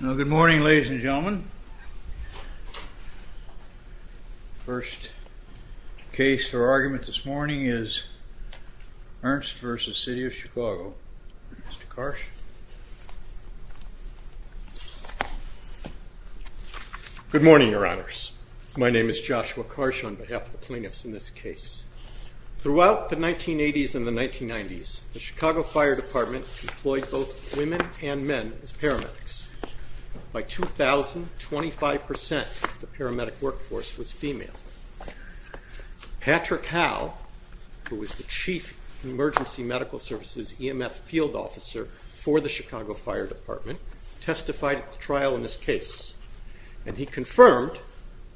Good morning ladies and gentlemen. First case for argument this morning is Ernst v. City of Chicago. Mr. Karsh. Good morning, Your Honors. My name is Joshua Karsh on behalf of the plaintiffs in this case. Throughout the 1980s and the 1990s, women and men as paramedics. By 2000, 25% of the paramedic workforce was female. Patrick Howe, who was the chief emergency medical services EMF field officer for the Chicago Fire Department, testified at the trial in this case and he confirmed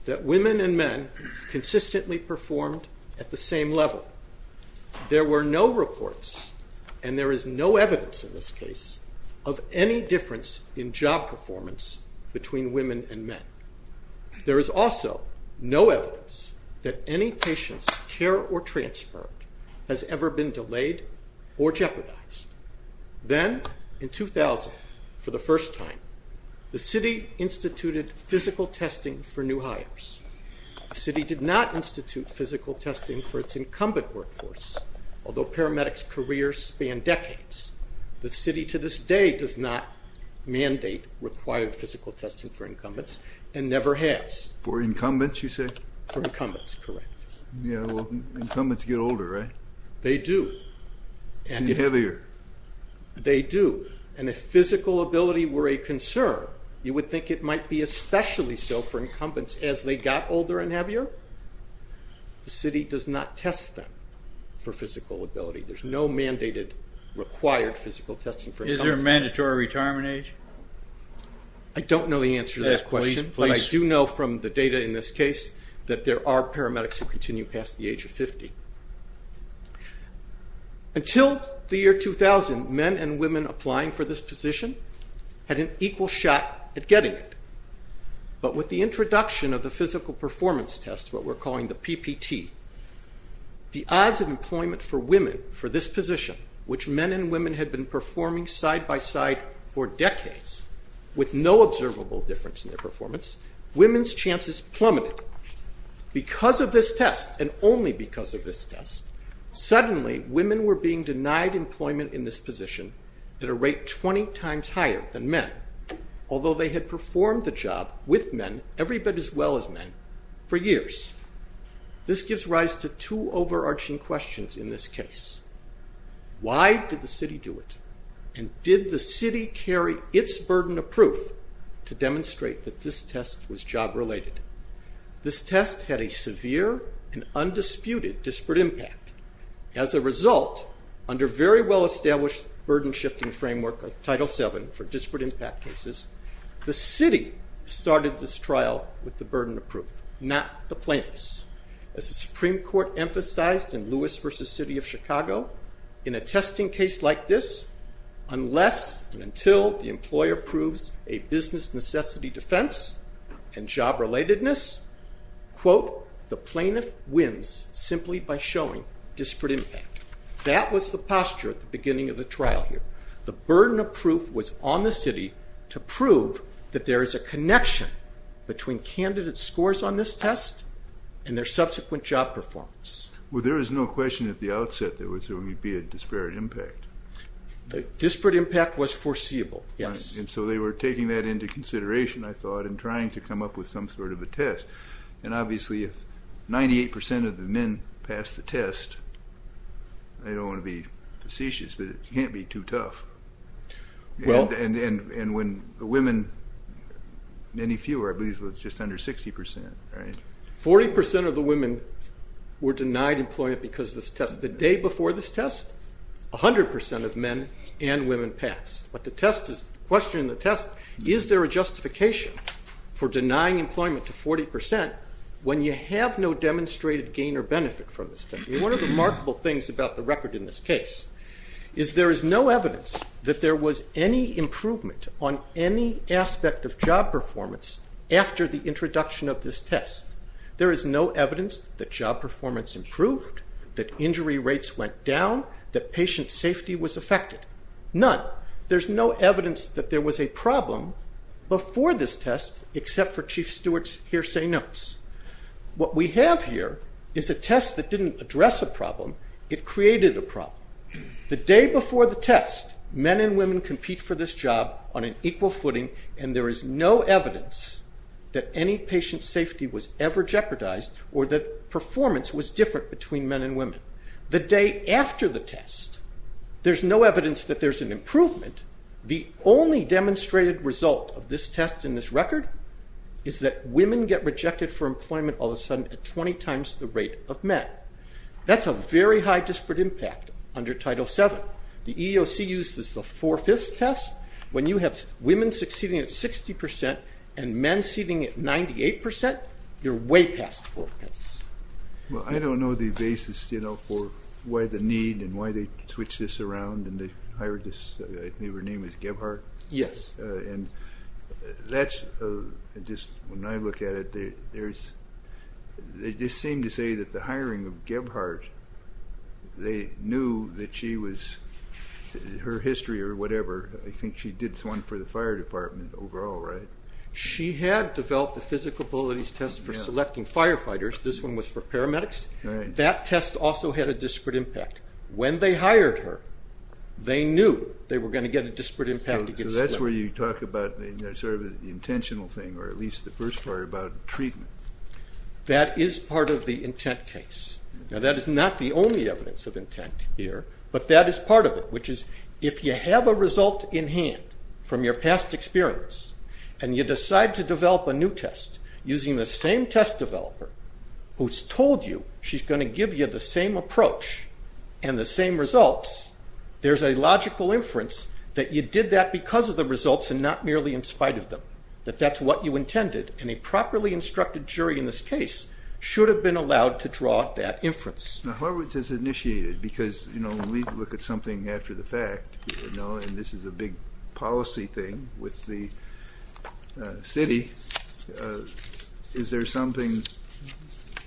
that women and men consistently performed at the same level. There were no reports, and there is no evidence in this case of any difference in job performance between women and men. There is also no evidence that any patient's care or transfer has ever been delayed or jeopardized. Then, in 2000, for the first time, the city instituted physical testing for new hires. The city did not institute physical testing for its incumbent workforce, although paramedics' careers span decades. The city to this day does not mandate required physical testing for incumbents and never has. For incumbents, you say? For incumbents, correct. Yeah, well incumbents get older, right? They do. And heavier. They do, and if physical ability were a concern, you would think it might be especially so for incumbents as they got older and heavier. The city does not test them for physical ability. There is no mandated required physical testing for incumbents. Is there a mandatory retirement age? I don't know the answer to that question, but I do know from the data in this case that there are paramedics who continue past the age of 50. Until the year 2000, men and women applying for this position had an equal shot at getting it, but with the introduction of the physical performance test, what we're calling the PPT, the odds of employment for women for this position, which men and women had been performing side by side for decades with no observable difference in their performance, women's chances plummeted. Because of this test and only because of this test, suddenly women were being denied employment in this at a rate 20 times higher than men, although they had performed the job with men every bit as well as men for years. This gives rise to two overarching questions in this case. Why did the city do it? And did the city carry its burden of proof to demonstrate that this test was job related? This test had a severe and undisputed disparate impact. As a result, under very well established burden shifting framework of Title VII for disparate impact cases, the city started this trial with the burden of proof, not the plaintiffs. As the Supreme Court emphasized in Lewis v. City of Chicago, in a testing case like this, unless and until the employer proves a business necessity defense and job relatedness, quote, the plaintiff wins simply by showing disparate impact. That was the posture at the beginning of the trial here. The burden of proof was on the city to prove that there is a connection between candidate scores on this test and their subsequent job performance. Well, there was no question at the outset that there would be a disparate impact. Disparate impact was foreseeable, yes. So they were taking that into consideration, I thought, and trying to come up with some sort of a test. And obviously if 98% of the men passed the test, I don't want to be facetious, but it can't be too tough. And when the women, many fewer, I believe it was just under 60%, right? 40% of the women were denied employment because of this test. The day before this test, 100% of men and women passed. But the test is, the question in the test, is there a justification for denying employment to 40% when you have no demonstrated gain or benefit from this test? One of the remarkable things about the record in this case is there is no evidence that there was any improvement on any aspect of job performance after the introduction of this test. There is no evidence that job performance improved, that injury rates went down, that patient safety was affected. None. There's no evidence that there was a problem before this test except for Chief Stewart's hearsay notes. What we have here is a test that didn't address a problem, it created a problem. The day before the test, men and women compete for this job on an equal footing and there is no evidence that any patient safety was ever jeopardized or that performance was different between men and women. The day after the test, there's no evidence that there's an improvement. The only demonstrated result of this test in this record is that women get rejected for employment all of a sudden at 20 times the rate of men. That's a very high disparate impact under Title VII. The EEOC uses the four-fifths test. When you have women succeeding at 60% and men succeeding at 98%, you're way past four-fifths. Well, I don't know the basis for why the need and why they switched this around and they knew her name was Gebhardt. When I look at it, they just seem to say that the hiring of Gebhardt, they knew that she was, her history or whatever, I think she did one for the fire department overall, right? She had developed a physical abilities test for selecting firefighters. This one was for paramedics. That test also had a disparate impact. When they hired her, they knew they were going to get a disparate impact. That's where you talk about the intentional thing or at least the first part about treatment. That is part of the intent case. That is not the only evidence of intent here, but that is part of it, which is if you have a result in hand from your past experience and you decide to develop a new test using the same test developer who's told you she's going to give you the same approach and the same results, there's a logical inference that you did that because of the results and not merely in spite of them, that that's what you intended and a properly instructed jury in this case should have been allowed to draw that inference. Now, however it is initiated, because when we look at something after the fact, and this is a big policy thing with the city, is there something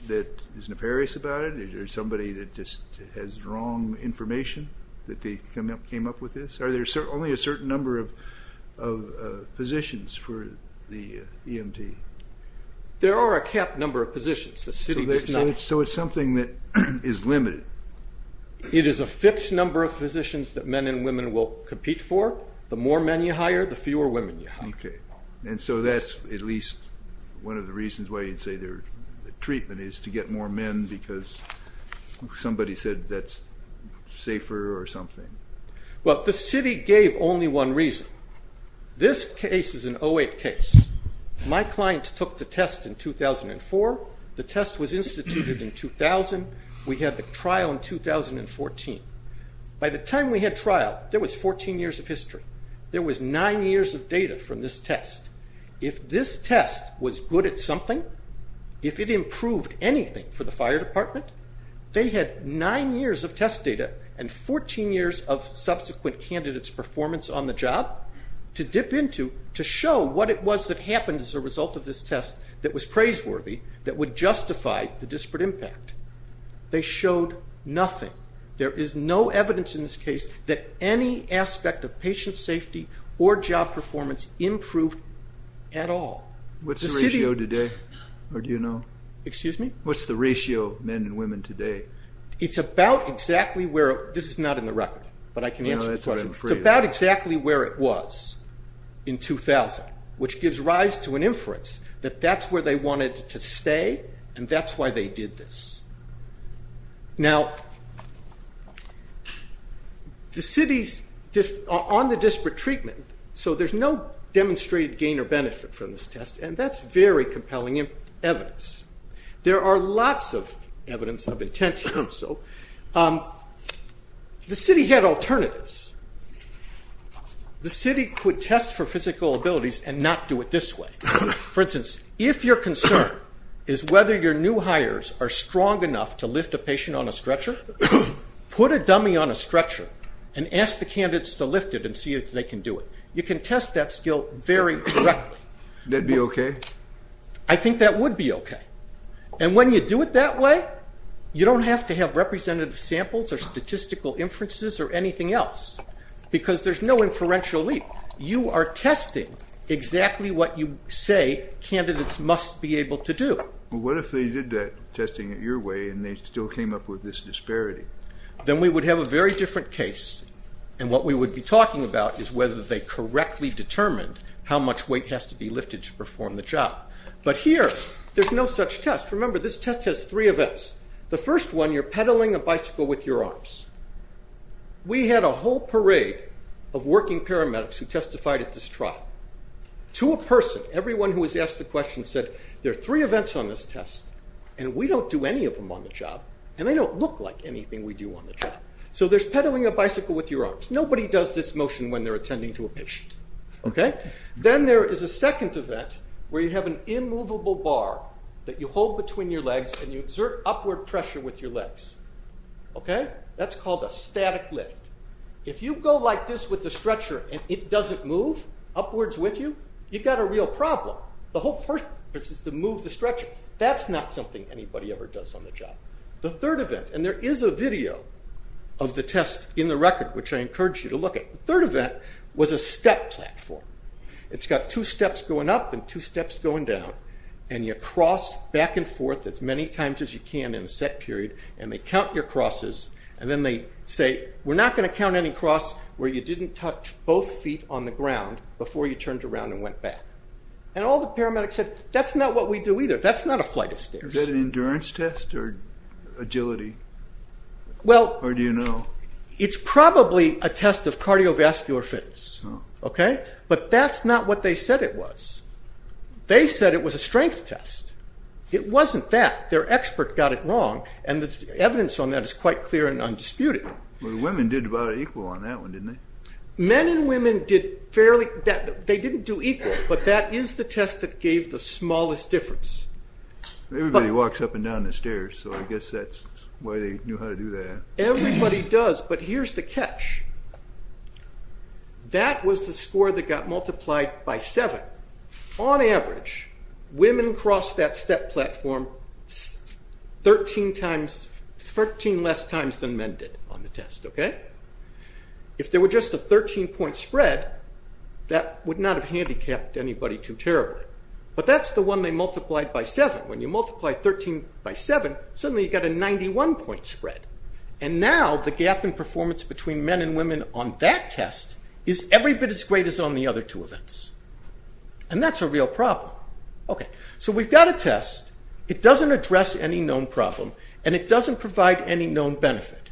that is nefarious about it? Is there somebody that just has wrong information that they came up with this? Are there only a certain number of positions for the EMT? There are a capped number of positions. The city does not. So it's something that is limited. It is a fixed number of positions that men and women will compete for. The more men you hire, the fewer women you hire. And so that's at least one of the reasons why you'd say their treatment is to get more men because somebody said that's safer or something. Well, the city gave only one reason. This case is an 08 case. My clients took the test in 2004. The test was instituted in 2000. We had the trial in 2014. By the time we had trial, there was 14 years of history. There was nine years of data from this test. If this test was good at something, if it improved anything for the fire department, they had nine years of test data and 14 years of subsequent candidates' performance on the test that was praiseworthy, that would justify the disparate impact. They showed nothing. There is no evidence in this case that any aspect of patient safety or job performance improved at all. What's the ratio today? Or do you know? What's the ratio of men and women today? It's about exactly where it was in 2000, which gives rise to an inference that that's where they wanted to stay and that's why they did this. Now the city's on the disparate treatment, so there's no demonstrated gain or benefit from this test, and that's very compelling evidence. There are lots of evidence of intent to do so. The city had alternatives. The city could test for physical abilities and not do it this way. For instance, if your concern is whether your new hires are strong enough to lift a patient on a stretcher, put a dummy on a stretcher and ask the candidates to lift it and see if they can do it. You can test that skill very correctly. Would that be okay? I think that would be okay. When you do it that way, you don't have to have representative samples or statistical inferences or anything else because there's no inferential leap. You are testing exactly what you say candidates must be able to do. What if they did that testing your way and they still came up with this disparity? Then we would have a very different case, and what we would be talking about is whether they correctly determined how much weight has to be lifted to perform the job. But here, there's no such test. Remember, this test has three events. The first one, you're pedaling a bicycle with your arms. We had a whole parade of working paramedics who testified at this trial. To a person, everyone who was asked the question said, there are three events on this test, and we don't do any of them on the job, and they don't look like anything we do on the job. So there's pedaling a bicycle with your arms. Nobody does this motion when they're attending to a patient. Then there is a second event where you have an immovable bar that you hold between your legs. That's called a static lift. If you go like this with the stretcher and it doesn't move upwards with you, you've got a real problem. The whole purpose is to move the stretcher. That's not something anybody ever does on the job. The third event, and there is a video of the test in the record, which I encourage you to look at. The third event was a step platform. It's got two steps going up and two steps going down, and you cross back and forth as many times as you can in a set period, and they count your crosses, and then they say, we're not going to count any cross where you didn't touch both feet on the ground before you turned around and went back. All the paramedics said, that's not what we do either. That's not a flight of stairs. Is that an endurance test or agility? Or do you know? It's probably a test of cardiovascular fitness. But that's not what they said it was. They said it was a strength test. It wasn't that. Their expert got it wrong, and the evidence on that is quite clear and undisputed. The women did about equal on that one, didn't they? Men and women did fairly, they didn't do equal, but that is the test that gave the smallest difference. Everybody walks up and down the stairs, so I guess that's why they knew how to do that. Everybody does, but here's the catch. That was the score that got multiplied by 7. On average, women crossed that step platform 13 less times than men did on the test. If there were just a 13 point spread, that would not have handicapped anybody too terribly. But that's the one they multiplied by 7. When you multiply 13 by 7, suddenly you've got a 91 point spread. And now the gap in performance between men and women on that test is every bit as great as on the other two events. And that's a real problem. So we've got a test, it doesn't address any known problem, and it doesn't provide any known benefit.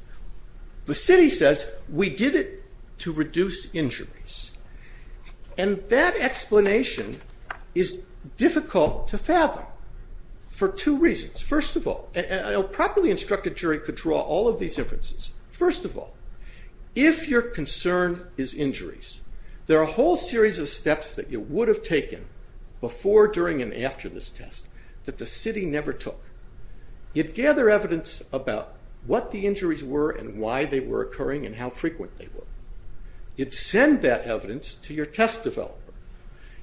The city says, we did it to reduce injuries. And that explanation is difficult to fathom for two reasons. First of all, a properly instructed jury could draw all of these inferences. First of all, if your concern is injuries, there are a whole series of steps that you would have taken before, during, and after this test that the city never took. You'd gather evidence about what the injuries were and why they were occurring and how frequent they were. You'd send that evidence to your test developer.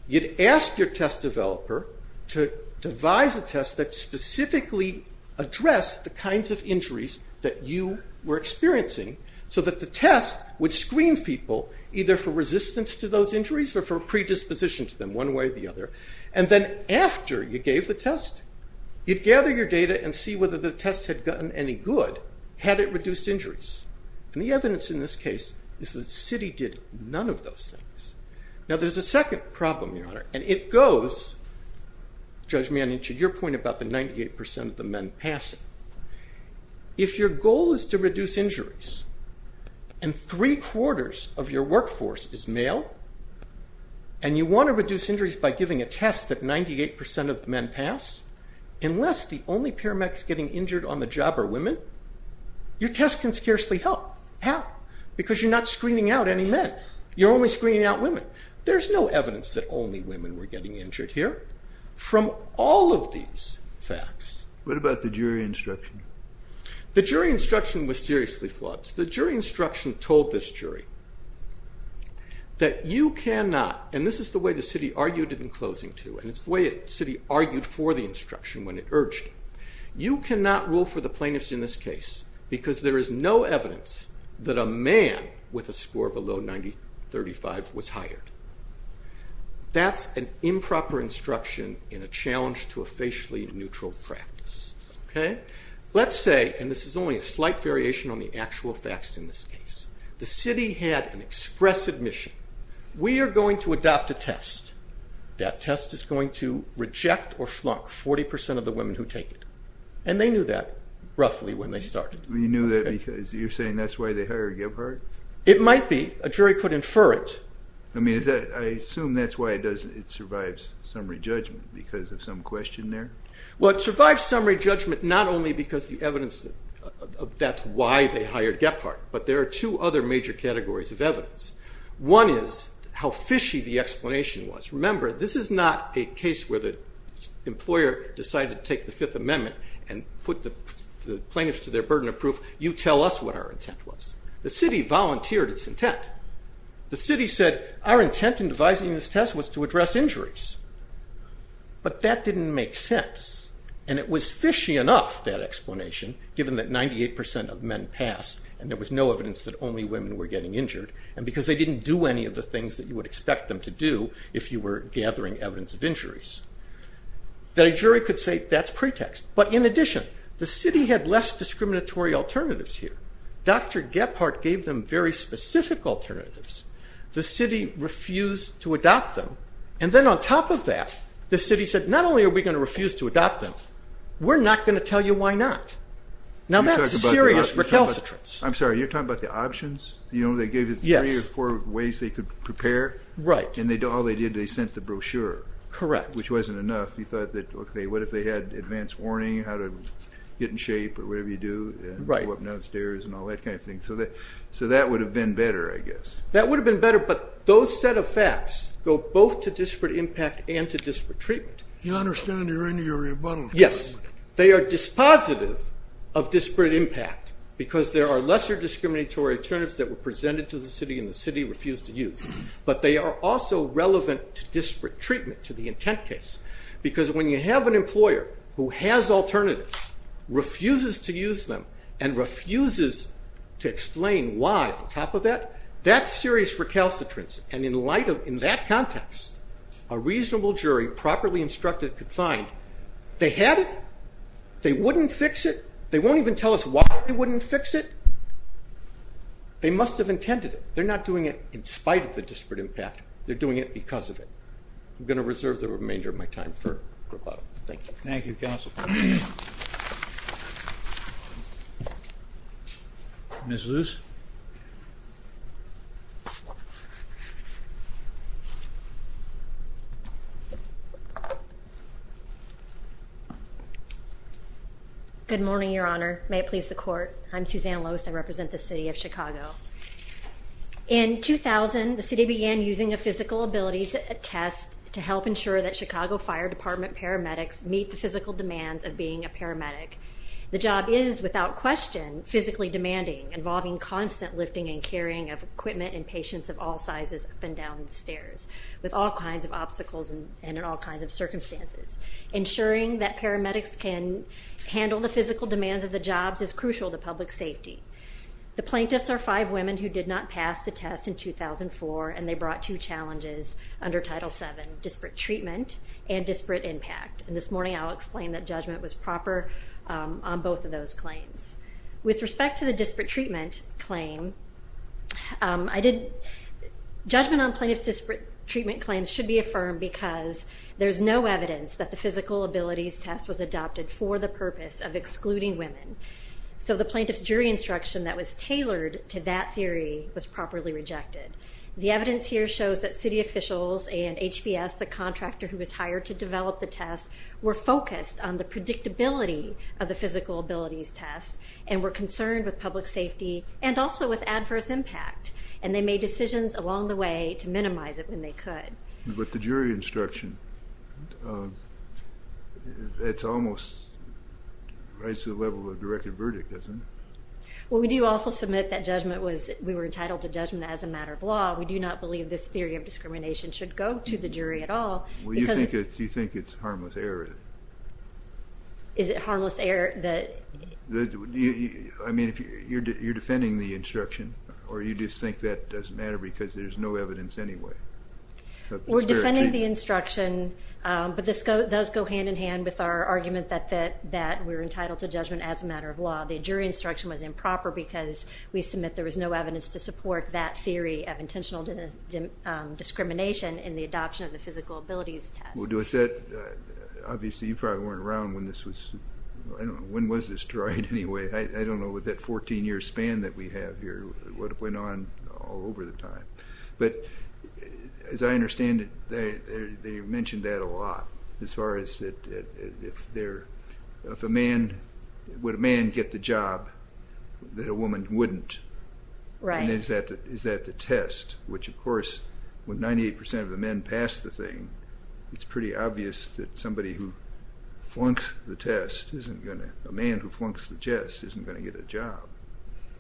You'd ask your test developer to devise a test that specifically addressed the kinds of injuries that you were experiencing so that the test would screen people either for resistance to those injuries or for predisposition to them, one way or the other. And then after you gave the test, you'd gather your data and see whether the test had gotten any good, had it reduced injuries. And the evidence in this case is that the city did none of those things. Now there's a second problem, Your Honor, and it goes, Judge Manning, to your point about the 98% of the men passing. If your goal is to reduce injuries and three-quarters of your workforce is male and you want to reduce injuries by giving a test that 98% of the men pass, unless the only paramedics getting injured on the job are women, your test can scarcely help. How? Because you're not screening out any men. You're only screening out women. There's no evidence that only women were getting injured here. From all of these facts. What about the jury instruction? The jury instruction was seriously flawed. The jury instruction told this jury that you cannot, and this is the way the city argued it in closing, too, and it's the way the city argued for the instruction when it urged it, you cannot rule for the plaintiffs in this case because there is no evidence that a man with a score below 90-35 was hired. That's an improper instruction in a challenge to a facially neutral practice. Let's say, and this is only a slight variation on the actual facts in this case, the city had an expressive mission. We are going to adopt a test. That test is going to reject or flunk 40% of the women who take it, and they knew that roughly when they started. You knew that because you're saying that's why they hired Gephardt? It might be. A jury could infer it. I assume that's why it survives summary judgment because of some question there. Well, it survives summary judgment not only because the evidence of that's why they hired Gephardt, but there are two other major categories of evidence. One is how fishy the explanation was. Remember, this is not a case where the employer decided to take the Fifth Amendment and put the plaintiffs to their burden of proof. You tell us what our intent was. The city volunteered its intent. The city said our intent in devising this test was to address injuries, but that didn't make sense, and it was fishy enough, that explanation, given that 98% of men passed and there was no evidence that only women were getting injured, and because they didn't do any of the things that you would expect them to do if you were gathering evidence of injuries. The jury could say that's pretext, but in addition, the city had less discriminatory alternatives here. Dr. Gephardt gave them very specific alternatives. The city refused to adopt them, and then on top of that, the city said not only are we going to refuse to adopt them, we're not going to tell you why not. Now, that's a serious recalcitrance. I'm sorry. You're talking about the options? Yes. You know, they gave you three or four ways they could prepare? Right. And all they did, they sent the brochure. Correct. Which wasn't enough. You thought that, okay, what if they had advance warning, how to get in shape or whatever you do, go up and down the stairs and all that kind of thing. So that would have been better, I guess. That would have been better, but those set of facts go both to disparate impact and to disparate treatment. You understand you're in your rebuttal. Yes. They are dispositive of disparate impact because there are lesser discriminatory alternatives that were presented to the city and the city refused to use, but they are also relevant to disparate treatment to the intent case because when you have an employer who has alternatives, refuses to use them, and refuses to explain why on top of that, that's serious recalcitrance. And in that context, a reasonable jury properly instructed could find they had it, they wouldn't fix it, they won't even tell us why they wouldn't fix it. They must have intended it. They're not doing it in spite of the disparate impact, they're doing it because of it. I'm going to reserve the remainder of my time for rebuttal. Thank you. Thank you, Counsel. Ms. Luce. Good morning, Your Honor. May it please the court. I'm Susanna Luce. I represent the city of Chicago. In 2000, the city began using a physical abilities test to help ensure that Chicago Fire Department paramedics meet the physical demands of being a paramedic. The job is, without question, physically demanding, involving constant lifting and carrying of equipment and patients of all sizes up and down the stairs with all kinds of obstacles and in all kinds of circumstances. Ensuring that paramedics can handle the physical demands of the jobs is crucial to public safety. The plaintiffs are five women who did not pass the test in 2004, and they brought two challenges under Title VII, disparate treatment and disparate impact. And this morning I'll explain that judgment was proper on both of those claims. With respect to the disparate treatment claim, judgment on plaintiff's disparate treatment claims should be affirmed because there's no evidence that the physical abilities test was adopted for the purpose of excluding women. So the plaintiff's jury instruction that was tailored to that theory was properly rejected. The evidence here shows that city officials and HBS, the contractor who was hired to develop the test, were focused on the predictability of the physical abilities test and were concerned with public safety and also with adverse impact, and they made decisions along the way to minimize it when they could. With the jury instruction, it's almost right to the level of directed verdict, isn't it? Well, we do also submit that judgment was, we were entitled to judgment as a matter of law. We do not believe this theory of discrimination should go to the jury at all. Well, you think it's harmless error? Is it harmless error that... I mean, you're defending the instruction, or you just think that doesn't matter because there's no evidence anyway? We're defending the instruction, but this does go hand-in-hand with our argument that we're entitled to judgment as a matter of law. The jury instruction was improper because we submit there was no evidence to support that theory of intentional discrimination in the adoption of the physical abilities test. Well, do I say it? Obviously, you probably weren't around when this was, I don't know, when was this tried anyway? I don't know what that 14-year span that we have here, what went on all over the time. But as I understand it, they mentioned that a lot, as far as if a man, would a man get the job that a woman wouldn't? Right. And is that the test? Which, of course, when 98% of the men pass the thing, it's pretty obvious that somebody who flunks the test isn't going to, a man who flunks the test isn't going to get a job.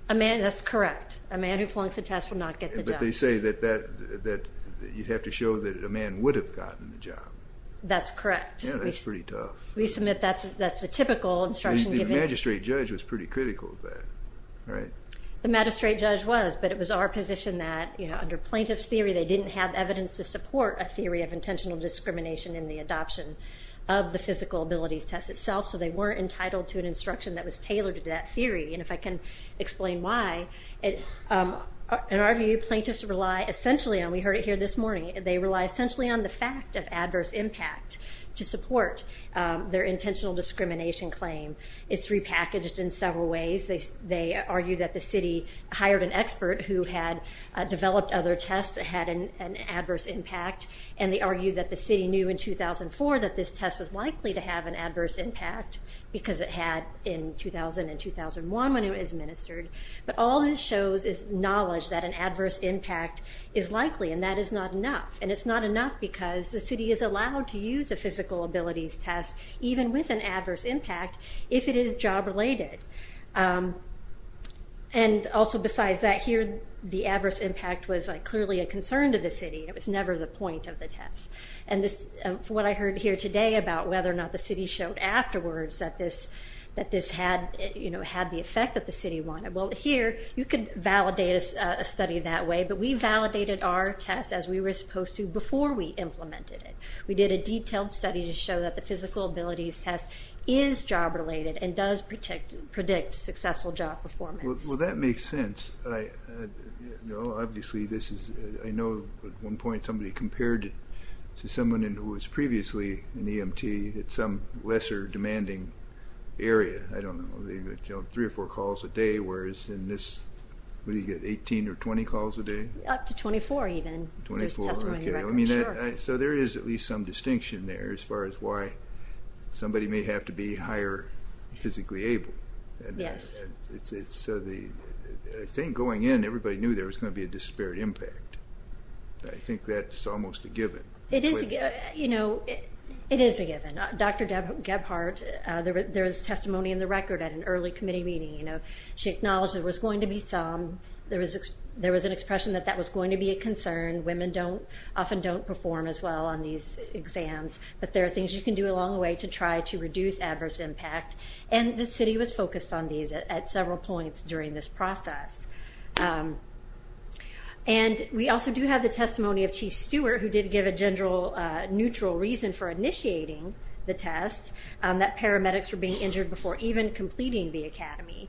That's correct. A man who flunks the test will not get the job. But they say that you'd have to show that a man would have gotten the job. That's correct. Yeah, that's pretty tough. We submit that's a typical instruction given. The magistrate judge was pretty critical of that, right? The magistrate judge was, but it was our position that, you know, under plaintiff's theory, they didn't have evidence to support a theory of intentional discrimination in the adoption of the physical abilities test itself, so they weren't entitled to an instruction that was tailored to that theory. And if I can explain why, in our view, plaintiffs rely essentially on, we heard it here this morning, they rely essentially on the fact of adverse impact to support their intentional discrimination claim. It's repackaged in several ways. They argue that the city hired an expert who had developed other tests that had an adverse impact, and they argue that the city knew in 2004 that this test was likely to have an adverse impact because it had in 2000 and 2001 when it was administered. But all this shows is knowledge that an adverse impact is likely, and that is not enough. And it's not enough because the city is allowed to use a physical abilities test, even with an adverse impact, if it is job related. And also besides that here, the adverse impact was clearly a concern to the city. It was never the point of the test. And what I heard here today about whether or not the city showed afterwards that this had the effect that the city wanted. Well, here you could validate a study that way, but we validated our test as we were supposed to before we implemented it. We did a detailed study to show that the physical abilities test is job related and does predict successful job performance. Well, that makes sense. Obviously, I know at one point somebody compared it to someone who was previously an EMT at some lesser demanding area. I don't know, three or four calls a day, whereas in this, what do you get, 18 or 20 calls a day? Up to 24 even. 24, okay. I mean, so there is at least some distinction there as far as why somebody may have to be higher physically able. Yes. I think going in, everybody knew there was going to be a disparate impact. I think that's almost a given. It is a given. Dr. Gebhardt, there is testimony in the record at an early committee meeting. She acknowledged there was going to be some. There was an expression that that was going to be a concern. Women often don't perform as well on these exams, but there are things you can do along the way to try to reduce adverse impact, and the city was focused on these at several points during this process. And we also do have the testimony of Chief Stewart, who did give a neutral reason for initiating the test, that paramedics were being injured before even completing the academy.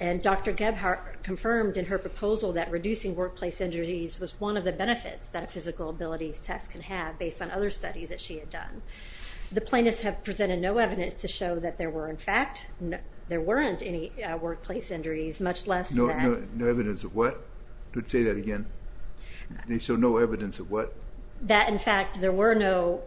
And Dr. Gebhardt confirmed in her proposal that reducing workplace injuries was one of the benefits that a physical abilities test can have based on other studies that she had done. The plaintiffs have presented no evidence to show that there were, in fact, there weren't any workplace injuries, much less that. No evidence of what? Say that again. They show no evidence of what? That, in fact, there were no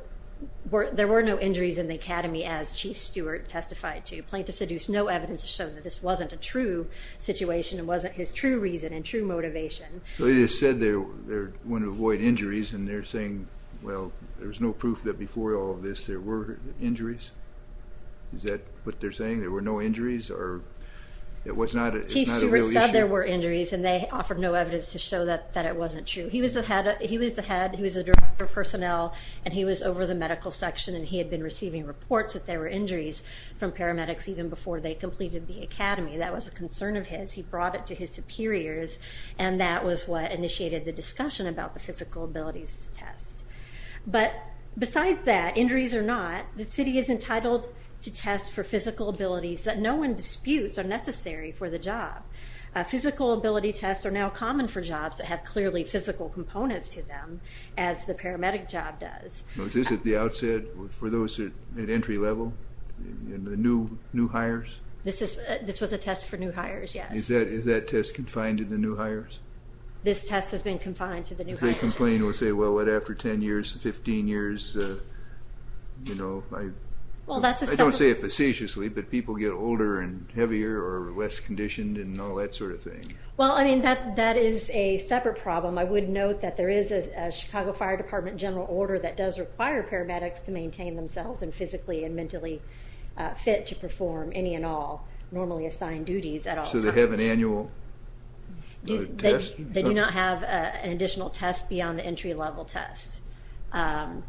injuries in the academy, as Chief Stewart testified to. Plaintiffs deduce no evidence to show that this wasn't a true situation and wasn't his true reason and true motivation. They just said they wanted to avoid injuries, and they're saying, well, there was no proof that before all of this there were injuries. Is that what they're saying, there were no injuries? Or it's not a real issue? Chief Stewart said there were injuries, and they offered no evidence to show that it wasn't true. He was the head, he was the director of personnel, and he was over the medical section, and he had been receiving reports that there were injuries from paramedics even before they completed the academy. That was a concern of his. He brought it to his superiors, and that was what initiated the discussion about the physical abilities test. But besides that, injuries or not, the city is entitled to test for physical abilities that no one disputes are necessary for the job. Physical ability tests are now common for jobs that have clearly physical components to them, as the paramedic job does. Was this at the outset for those at entry level, the new hires? This was a test for new hires, yes. Is that test confined to the new hires? This test has been confined to the new hires. If they complain and say, well, what, after 10 years, 15 years, you know, I don't say it facetiously, but people get older and heavier or less conditioned and all that sort of thing. Well, I mean, that is a separate problem. I would note that there is a Chicago Fire Department general order that does require paramedics to maintain themselves and physically and mentally fit to perform any and all normally assigned duties at all times. So they have an annual test? They do not have an additional test beyond the entry level test, but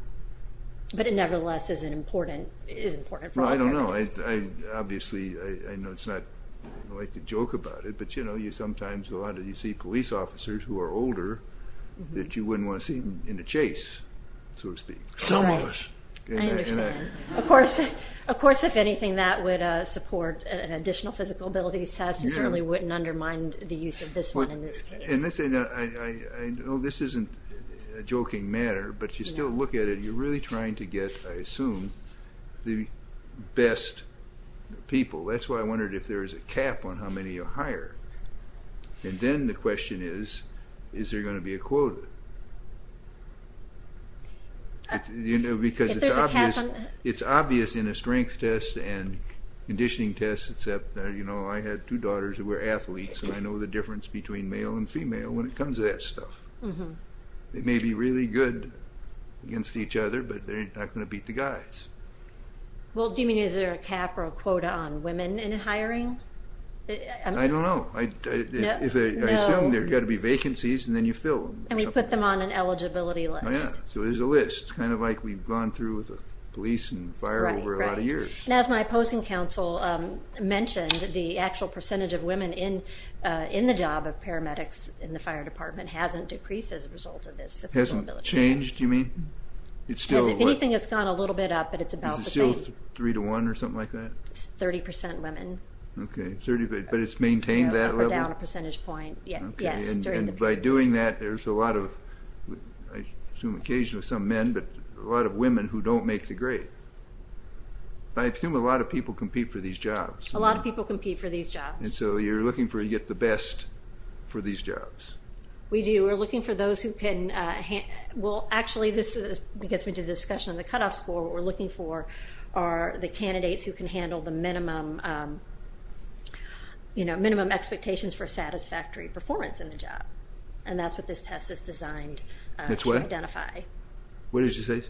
it nevertheless is important for all paramedics. Well, I don't know. Obviously, I know it's not like a joke about it, but, you know, sometimes a lot of you see police officers who are older that you wouldn't want to see in a chase, so to speak. Some of us. I understand. Of course, if anything, that would support an additional physical abilities test. It certainly wouldn't undermine the use of this one in this case. I know this isn't a joking matter, but you still look at it, you're really trying to get, I assume, the best people. That's why I wondered if there is a cap on how many you hire. And then the question is, is there going to be a quota? Because it's obvious in a strength test and conditioning test except, you know, I had two daughters who were athletes, and I know the difference between male and female when it comes to that stuff. They may be really good against each other, but they're not going to beat the guys. Well, do you mean is there a cap or a quota on women in hiring? I don't know. I assume there's got to be vacancies, and then you fill them. And we put them on an eligibility list. So there's a list, kind of like we've gone through with the police and fire over a lot of times. As my opposing counsel mentioned, the actual percentage of women in the job of paramedics in the fire department hasn't decreased as a result of this. Hasn't changed, you mean? Anything that's gone a little bit up, but it's about the same. Is it still three to one or something like that? It's 30% women. Okay, but it's maintained that level? Up or down a percentage point, yes, during the period. And by doing that, there's a lot of, I assume occasionally some men, but a lot of women who don't make the grade. I assume a lot of people compete for these jobs. A lot of people compete for these jobs. And so you're looking to get the best for these jobs. We do. We're looking for those who can, well, actually this gets me to the discussion of the cutoff score. What we're looking for are the candidates who can handle the minimum expectations for satisfactory performance in the job. And that's what this test is designed to identify. What did you say?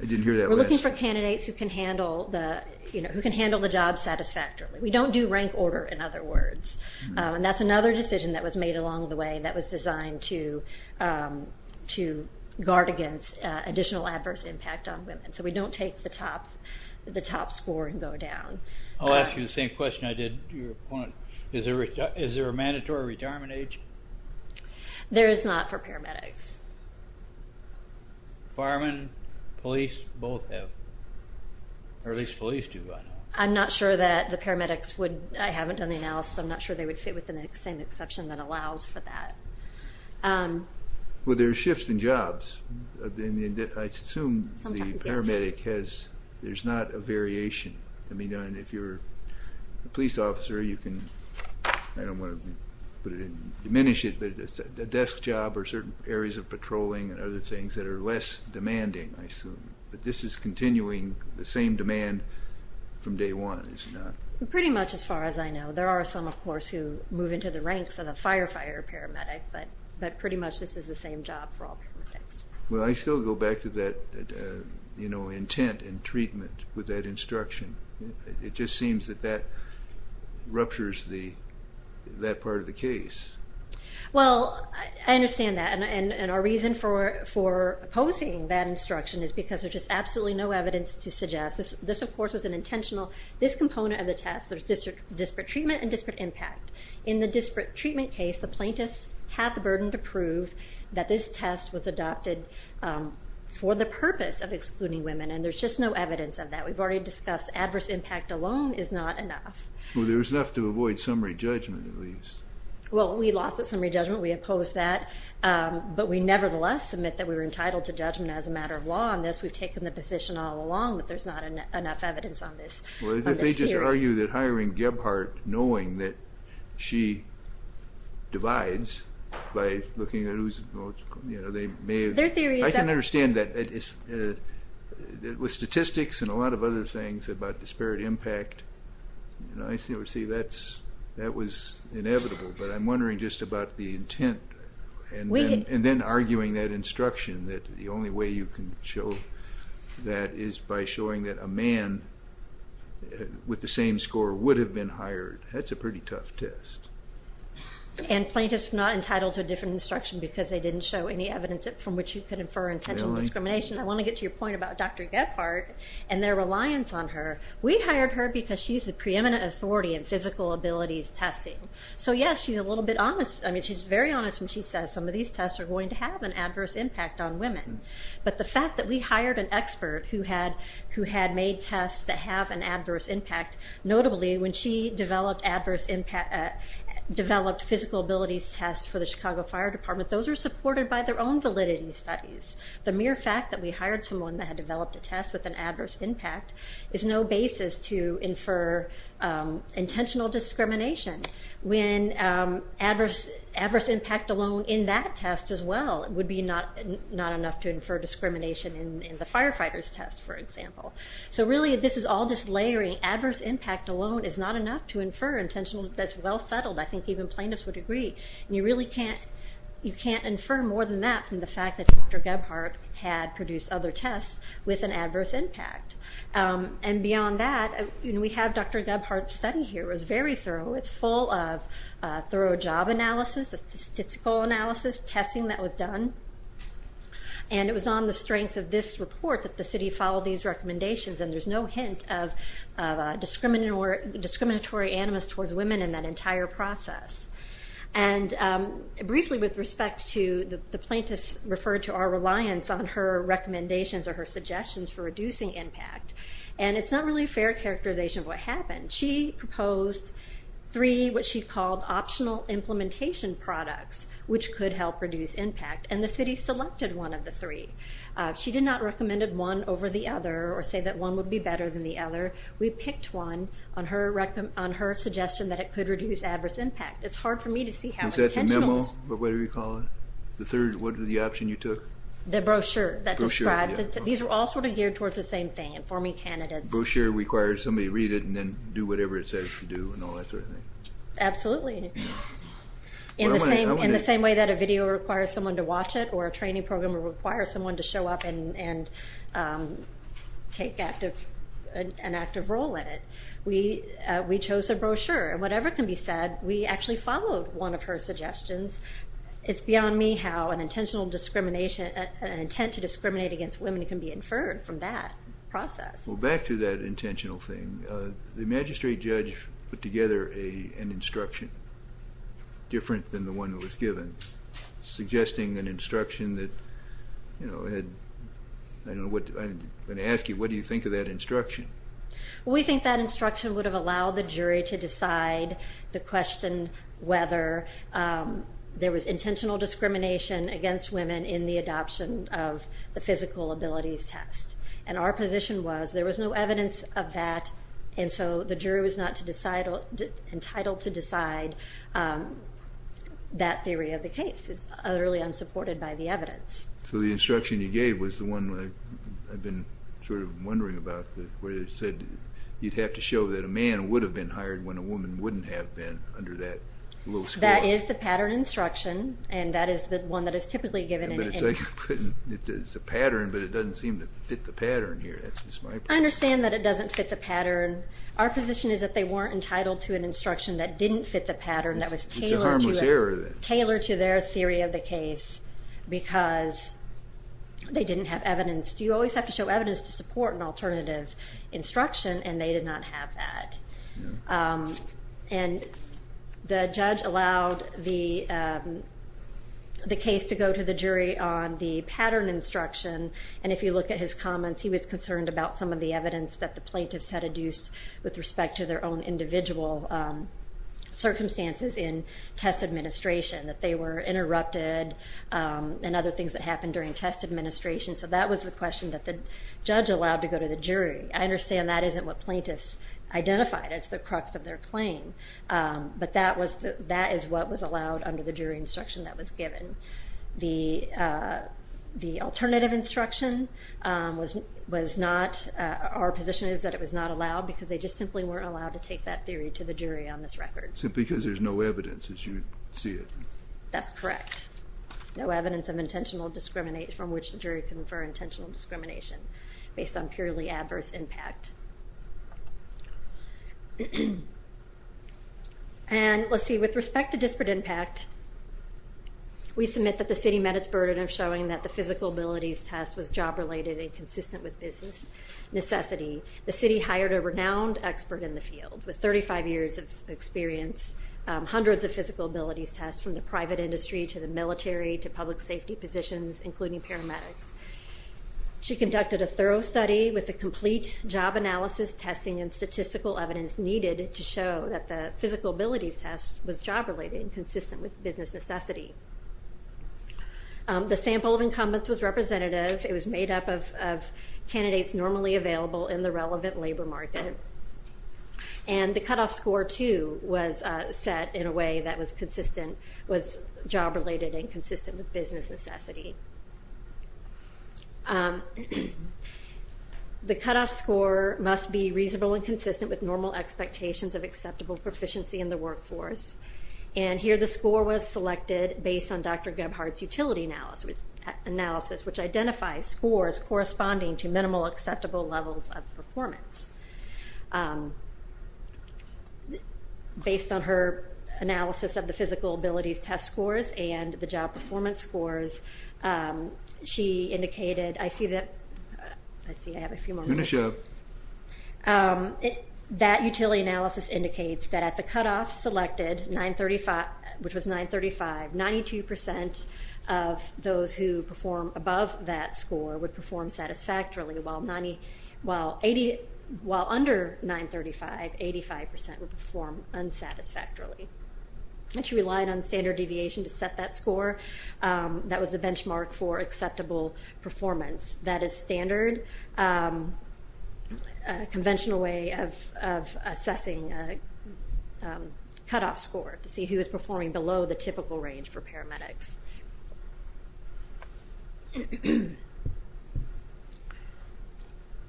I didn't hear that last. We're looking for candidates who can handle the job satisfactorily. We don't do rank order, in other words. And that's another decision that was made along the way that was designed to guard against additional adverse impact on women. So we don't take the top score and go down. I'll ask you the same question I did to your opponent. Is there a mandatory retirement age? There is not for paramedics. Firemen, police, both have. Or at least police do, I know. I'm not sure that the paramedics would, I haven't done the analysis, I'm not sure they would fit within the same exception that allows for that. Well, there are shifts in jobs. I assume the paramedic has, there's not a variation. I mean, if you're a police officer, you can, I don't want to put it in, diminish it, but it's a desk job or certain areas of patrolling and other things that are less demanding, I assume. But this is continuing the same demand from day one, is it not? Pretty much as far as I know. There are some, of course, who move into the ranks of a firefighter paramedic, but pretty much this is the same job for all paramedics. Well, I still go back to that intent and treatment with that instruction. It just seems that that ruptures that part of the case. Well, I understand that, and our reason for opposing that instruction is because there's just absolutely no evidence to suggest. This, of course, was an intentional, this component of the test, there's disparate treatment and disparate impact. In the disparate treatment case, the plaintiffs had the burden to prove that this test was adopted for the purpose of excluding women, and there's just no evidence of that. We've already discussed adverse impact alone is not enough. Well, there's enough to avoid summary judgment, at least. Well, we lost that summary judgment. We oppose that, but we nevertheless submit that we were entitled to judgment as a matter of law on this. We've taken the position all along that there's not enough evidence on this. Well, if they just argue that hiring Gebhardt, knowing that she divides by looking at who's, you know, they may have. Their theory is that. I can understand that. With statistics and a lot of other things about disparate impact, that was inevitable, but I'm wondering just about the intent and then arguing that instruction, that the only way you can show that is by showing that a man with the same score would have been hired. That's a pretty tough test. And plaintiffs not entitled to a different instruction because they didn't show any evidence from which you could infer intentional discrimination. I want to get to your point about Dr. Gebhardt and their reliance on her. We hired her because she's the preeminent authority in physical abilities testing. So, yes, she's a little bit honest. I mean, she's very honest when she says some of these tests are going to have an adverse impact on women. But the fact that we hired an expert who had made tests that have an adverse impact, notably when she developed physical abilities tests for the Chicago Fire Department, those are supported by their own validity studies. The mere fact that we hired someone that had developed a test with an intentional basis to infer intentional discrimination when adverse impact alone in that test as well would be not enough to infer discrimination in the firefighter's test, for example. So, really, this is all just layering. Adverse impact alone is not enough to infer intentional. That's well settled. I think even plaintiffs would agree. And you really can't infer more than that from the fact that Dr. Gebhardt had produced other tests with an adverse impact. And beyond that, we have Dr. Gebhardt's study here. It was very thorough. It's full of thorough job analysis, statistical analysis, testing that was done. And it was on the strength of this report that the city followed these recommendations. And there's no hint of discriminatory animus towards women in that entire process. And briefly with respect to the plaintiffs referred to our reliance on her recommendations or her suggestions for reducing impact. And it's not really a fair characterization of what happened. She proposed three, what she called, optional implementation products which could help reduce impact. And the city selected one of the three. She did not recommend one over the other or say that one would be better than the other. We picked one on her suggestion that it could reduce adverse impact. It's hard for me to see how intentional. Is that the memo or whatever you call it? The third, what was the option you took? The brochure. The brochure that described. These were all sort of geared towards the same thing, informing candidates. Brochure requires somebody to read it and then do whatever it says to do and all that sort of thing. Absolutely. In the same way that a video requires someone to watch it or a training program requires someone to show up and take an active role in it. We chose a brochure. Whatever can be said, we actually followed one of her suggestions. It's beyond me how an intentional discrimination, an intent to discriminate against women can be inferred from that process. Well, back to that intentional thing. The magistrate judge put together an instruction, different than the one that was given, suggesting an instruction that had, I don't know, I'm going to ask you, what do you think of that instruction? We think that instruction would have allowed the jury to decide the question whether there was intentional discrimination against women in the adoption of the physical abilities test. And our position was there was no evidence of that, and so the jury was not entitled to decide that theory of the case. It's utterly unsupported by the evidence. So the instruction you gave was the one I've been sort of wondering about, where it said you'd have to show that a man would have been hired when a woman wouldn't have been under that low score. That is the pattern instruction, and that is the one that is typically given. It's a pattern, but it doesn't seem to fit the pattern here. I understand that it doesn't fit the pattern. Our position is that they weren't entitled to an instruction that didn't fit the pattern, that was tailored to their theory of the case because they didn't have evidence. You always have to show evidence to support an alternative instruction, and they did not have that. And the judge allowed the case to go to the jury on the pattern instruction, and if you look at his comments, he was concerned about some of the evidence that the plaintiffs had adduced with respect to their own individual circumstances in test administration, that they were interrupted and other things that happened during test administration. So that was the question that the judge allowed to go to the jury. I understand that isn't what plaintiffs identified as the crux of their claim, but that is what was allowed under the jury instruction that was given. The alternative instruction was not, our position is that it was not allowed because they just simply weren't allowed to take that theory to the jury on this record. Simply because there's no evidence, as you see it. That's correct. No evidence of intentional discrimination, from which the jury can infer intentional discrimination based on purely adverse impact. And let's see, with respect to disparate impact, we submit that the city met its burden of showing that the physical abilities test was job-related and consistent with business necessity. The city hired a renowned expert in the field with 35 years of experience, hundreds of physical abilities tests from the private industry to the military to public safety positions, including paramedics. She conducted a thorough study with the complete job analysis, testing, and statistical evidence needed to show that the physical abilities test was job-related and consistent with business necessity. The sample of incumbents was representative. It was made up of candidates normally available in the relevant labor market. And the cutoff score, too, was set in a way that was consistent, was job-related and consistent with business necessity. The cutoff score must be reasonable and consistent with normal expectations of acceptable proficiency in the workforce. And here the score was selected based on Dr. Gebhardt's utility analysis, which identifies scores corresponding to minimal acceptable levels of performance. Based on her analysis of the physical abilities test scores and the job performance scores, she indicated, I see that, I see I have a few more minutes. That utility analysis indicates that at the cutoff selected, which was 935, 92% of those who perform above that score would perform satisfactorily while under 935, 85% would perform unsatisfactorily. And she relied on standard deviation to set that score. That was a benchmark for acceptable performance. That is standard, a conventional way of assessing a cutoff score to see who is performing below the typical range for paramedics.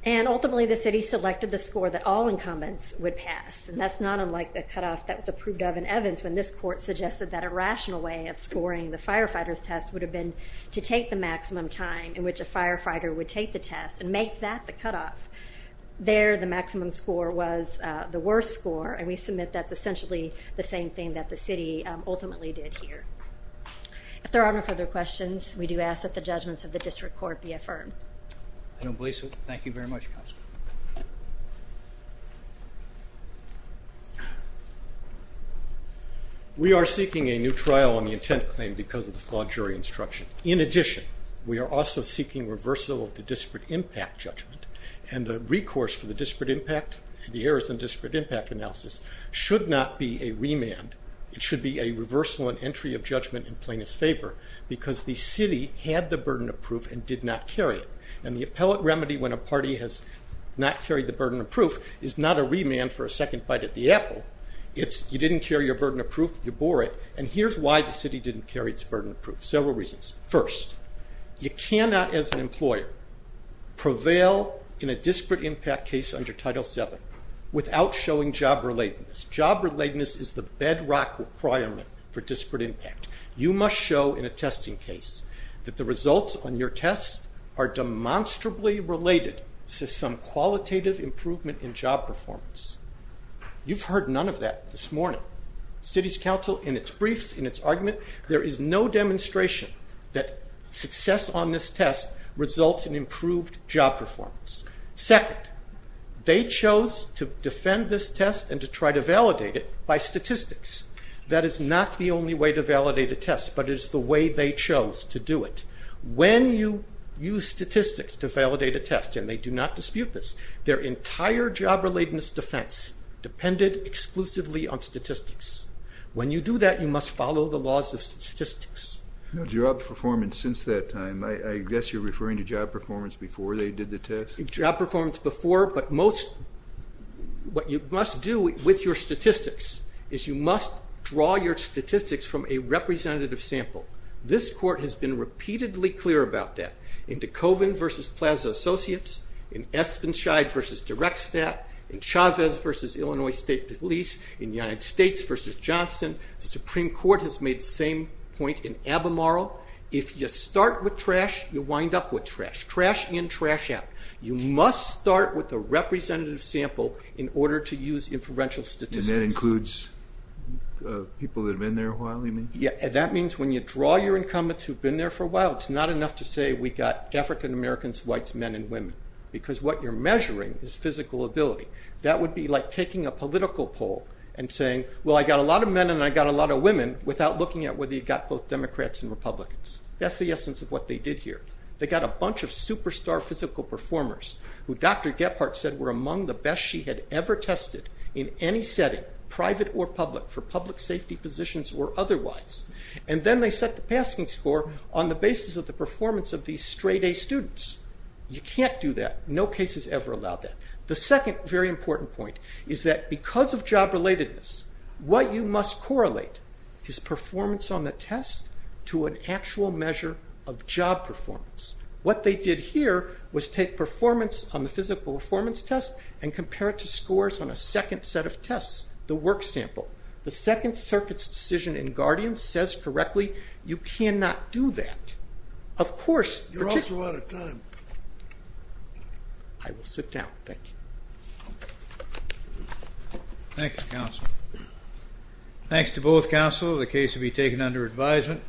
And ultimately the city selected the score that all incumbents would pass, and that's not unlike the cutoff that was approved of in Evans when this court suggested that a rational way of scoring the firefighters' test would have been to take the maximum time in which a firefighter would take the test and make that the cutoff. There the maximum score was the worst score, and we submit that's essentially the same thing that the city ultimately did here. If there are no further questions, we do ask that the judgments of the district court be affirmed. I don't believe so. Thank you very much, Counselor. We are seeking a new trial on the intent claim because of the flawed jury instruction. In addition, we are also seeking reversal of the disparate impact judgment, and the recourse for the disparate impact, the errors in disparate impact analysis, should not be a remand. It should be a reversal and entry of judgment in plaintiff's favor because the city had the burden of proof and did not carry it, and the appellate remedy when a party has not carried the burden of proof is not a remand for a second bite at the apple. It's you didn't carry your burden of proof, you bore it, and here's why the city didn't carry its burden of proof. Several reasons. First, you cannot as an employer prevail in a disparate impact case under Title VII without showing job relatedness. Job relatedness is the bedrock requirement for disparate impact. You must show in a testing case that the results on your test are demonstrably related to some qualitative improvement in job performance. You've heard none of that this morning. Cities Council, in its briefs, in its argument, there is no demonstration that success on this test results in improved job performance. Second, they chose to defend this test and to try to validate it by statistics. That is not the only way to validate a test, but it is the way they chose to do it. When you use statistics to validate a test, and they do not dispute this, their entire job relatedness defense depended exclusively on statistics. When you do that, you must follow the laws of statistics. Job performance since that time. I guess you're referring to job performance before they did the test? Job performance before, but what you must do with your statistics is you must draw your statistics from a representative sample. This court has been repeatedly clear about that. In DeKoven v. Plaza Associates, in Espenscheid v. Direkstat, in Chavez v. Illinois State Police, in United States v. Johnson, the Supreme Court has made the same point in Abemaro. If you start with trash, you wind up with trash. Trash in, trash out. You must start with a representative sample in order to use inferential statistics. That includes people that have been there a while? That means when you draw your incumbents who've been there for a while, it's not enough to say we got African Americans, whites, men, and women. Because what you're measuring is physical ability. That would be like taking a political poll and saying, I got a lot of men and I got a lot of women, without looking at whether you got both Democrats and Republicans. That's the essence of what they did here. They got a bunch of superstar physical performers, who Dr. Gephardt said were among the best she had ever tested in any setting, private or public, for public safety positions or otherwise. Then they set the passing score on the basis of the performance of these straight A students. You can't do that. No case has ever allowed that. The second very important point is that because of job relatedness, what you must correlate is performance on the test to an actual measure of job performance. What they did here was take performance on the physical performance test and compare it to scores on a second set of tests, the work sample. The Second Circuit's decision in Guardian says correctly you cannot do that. You're also out of time. I will sit down. Thank you. Thank you, counsel. Thanks to both counsel, the case will be taken under advisement.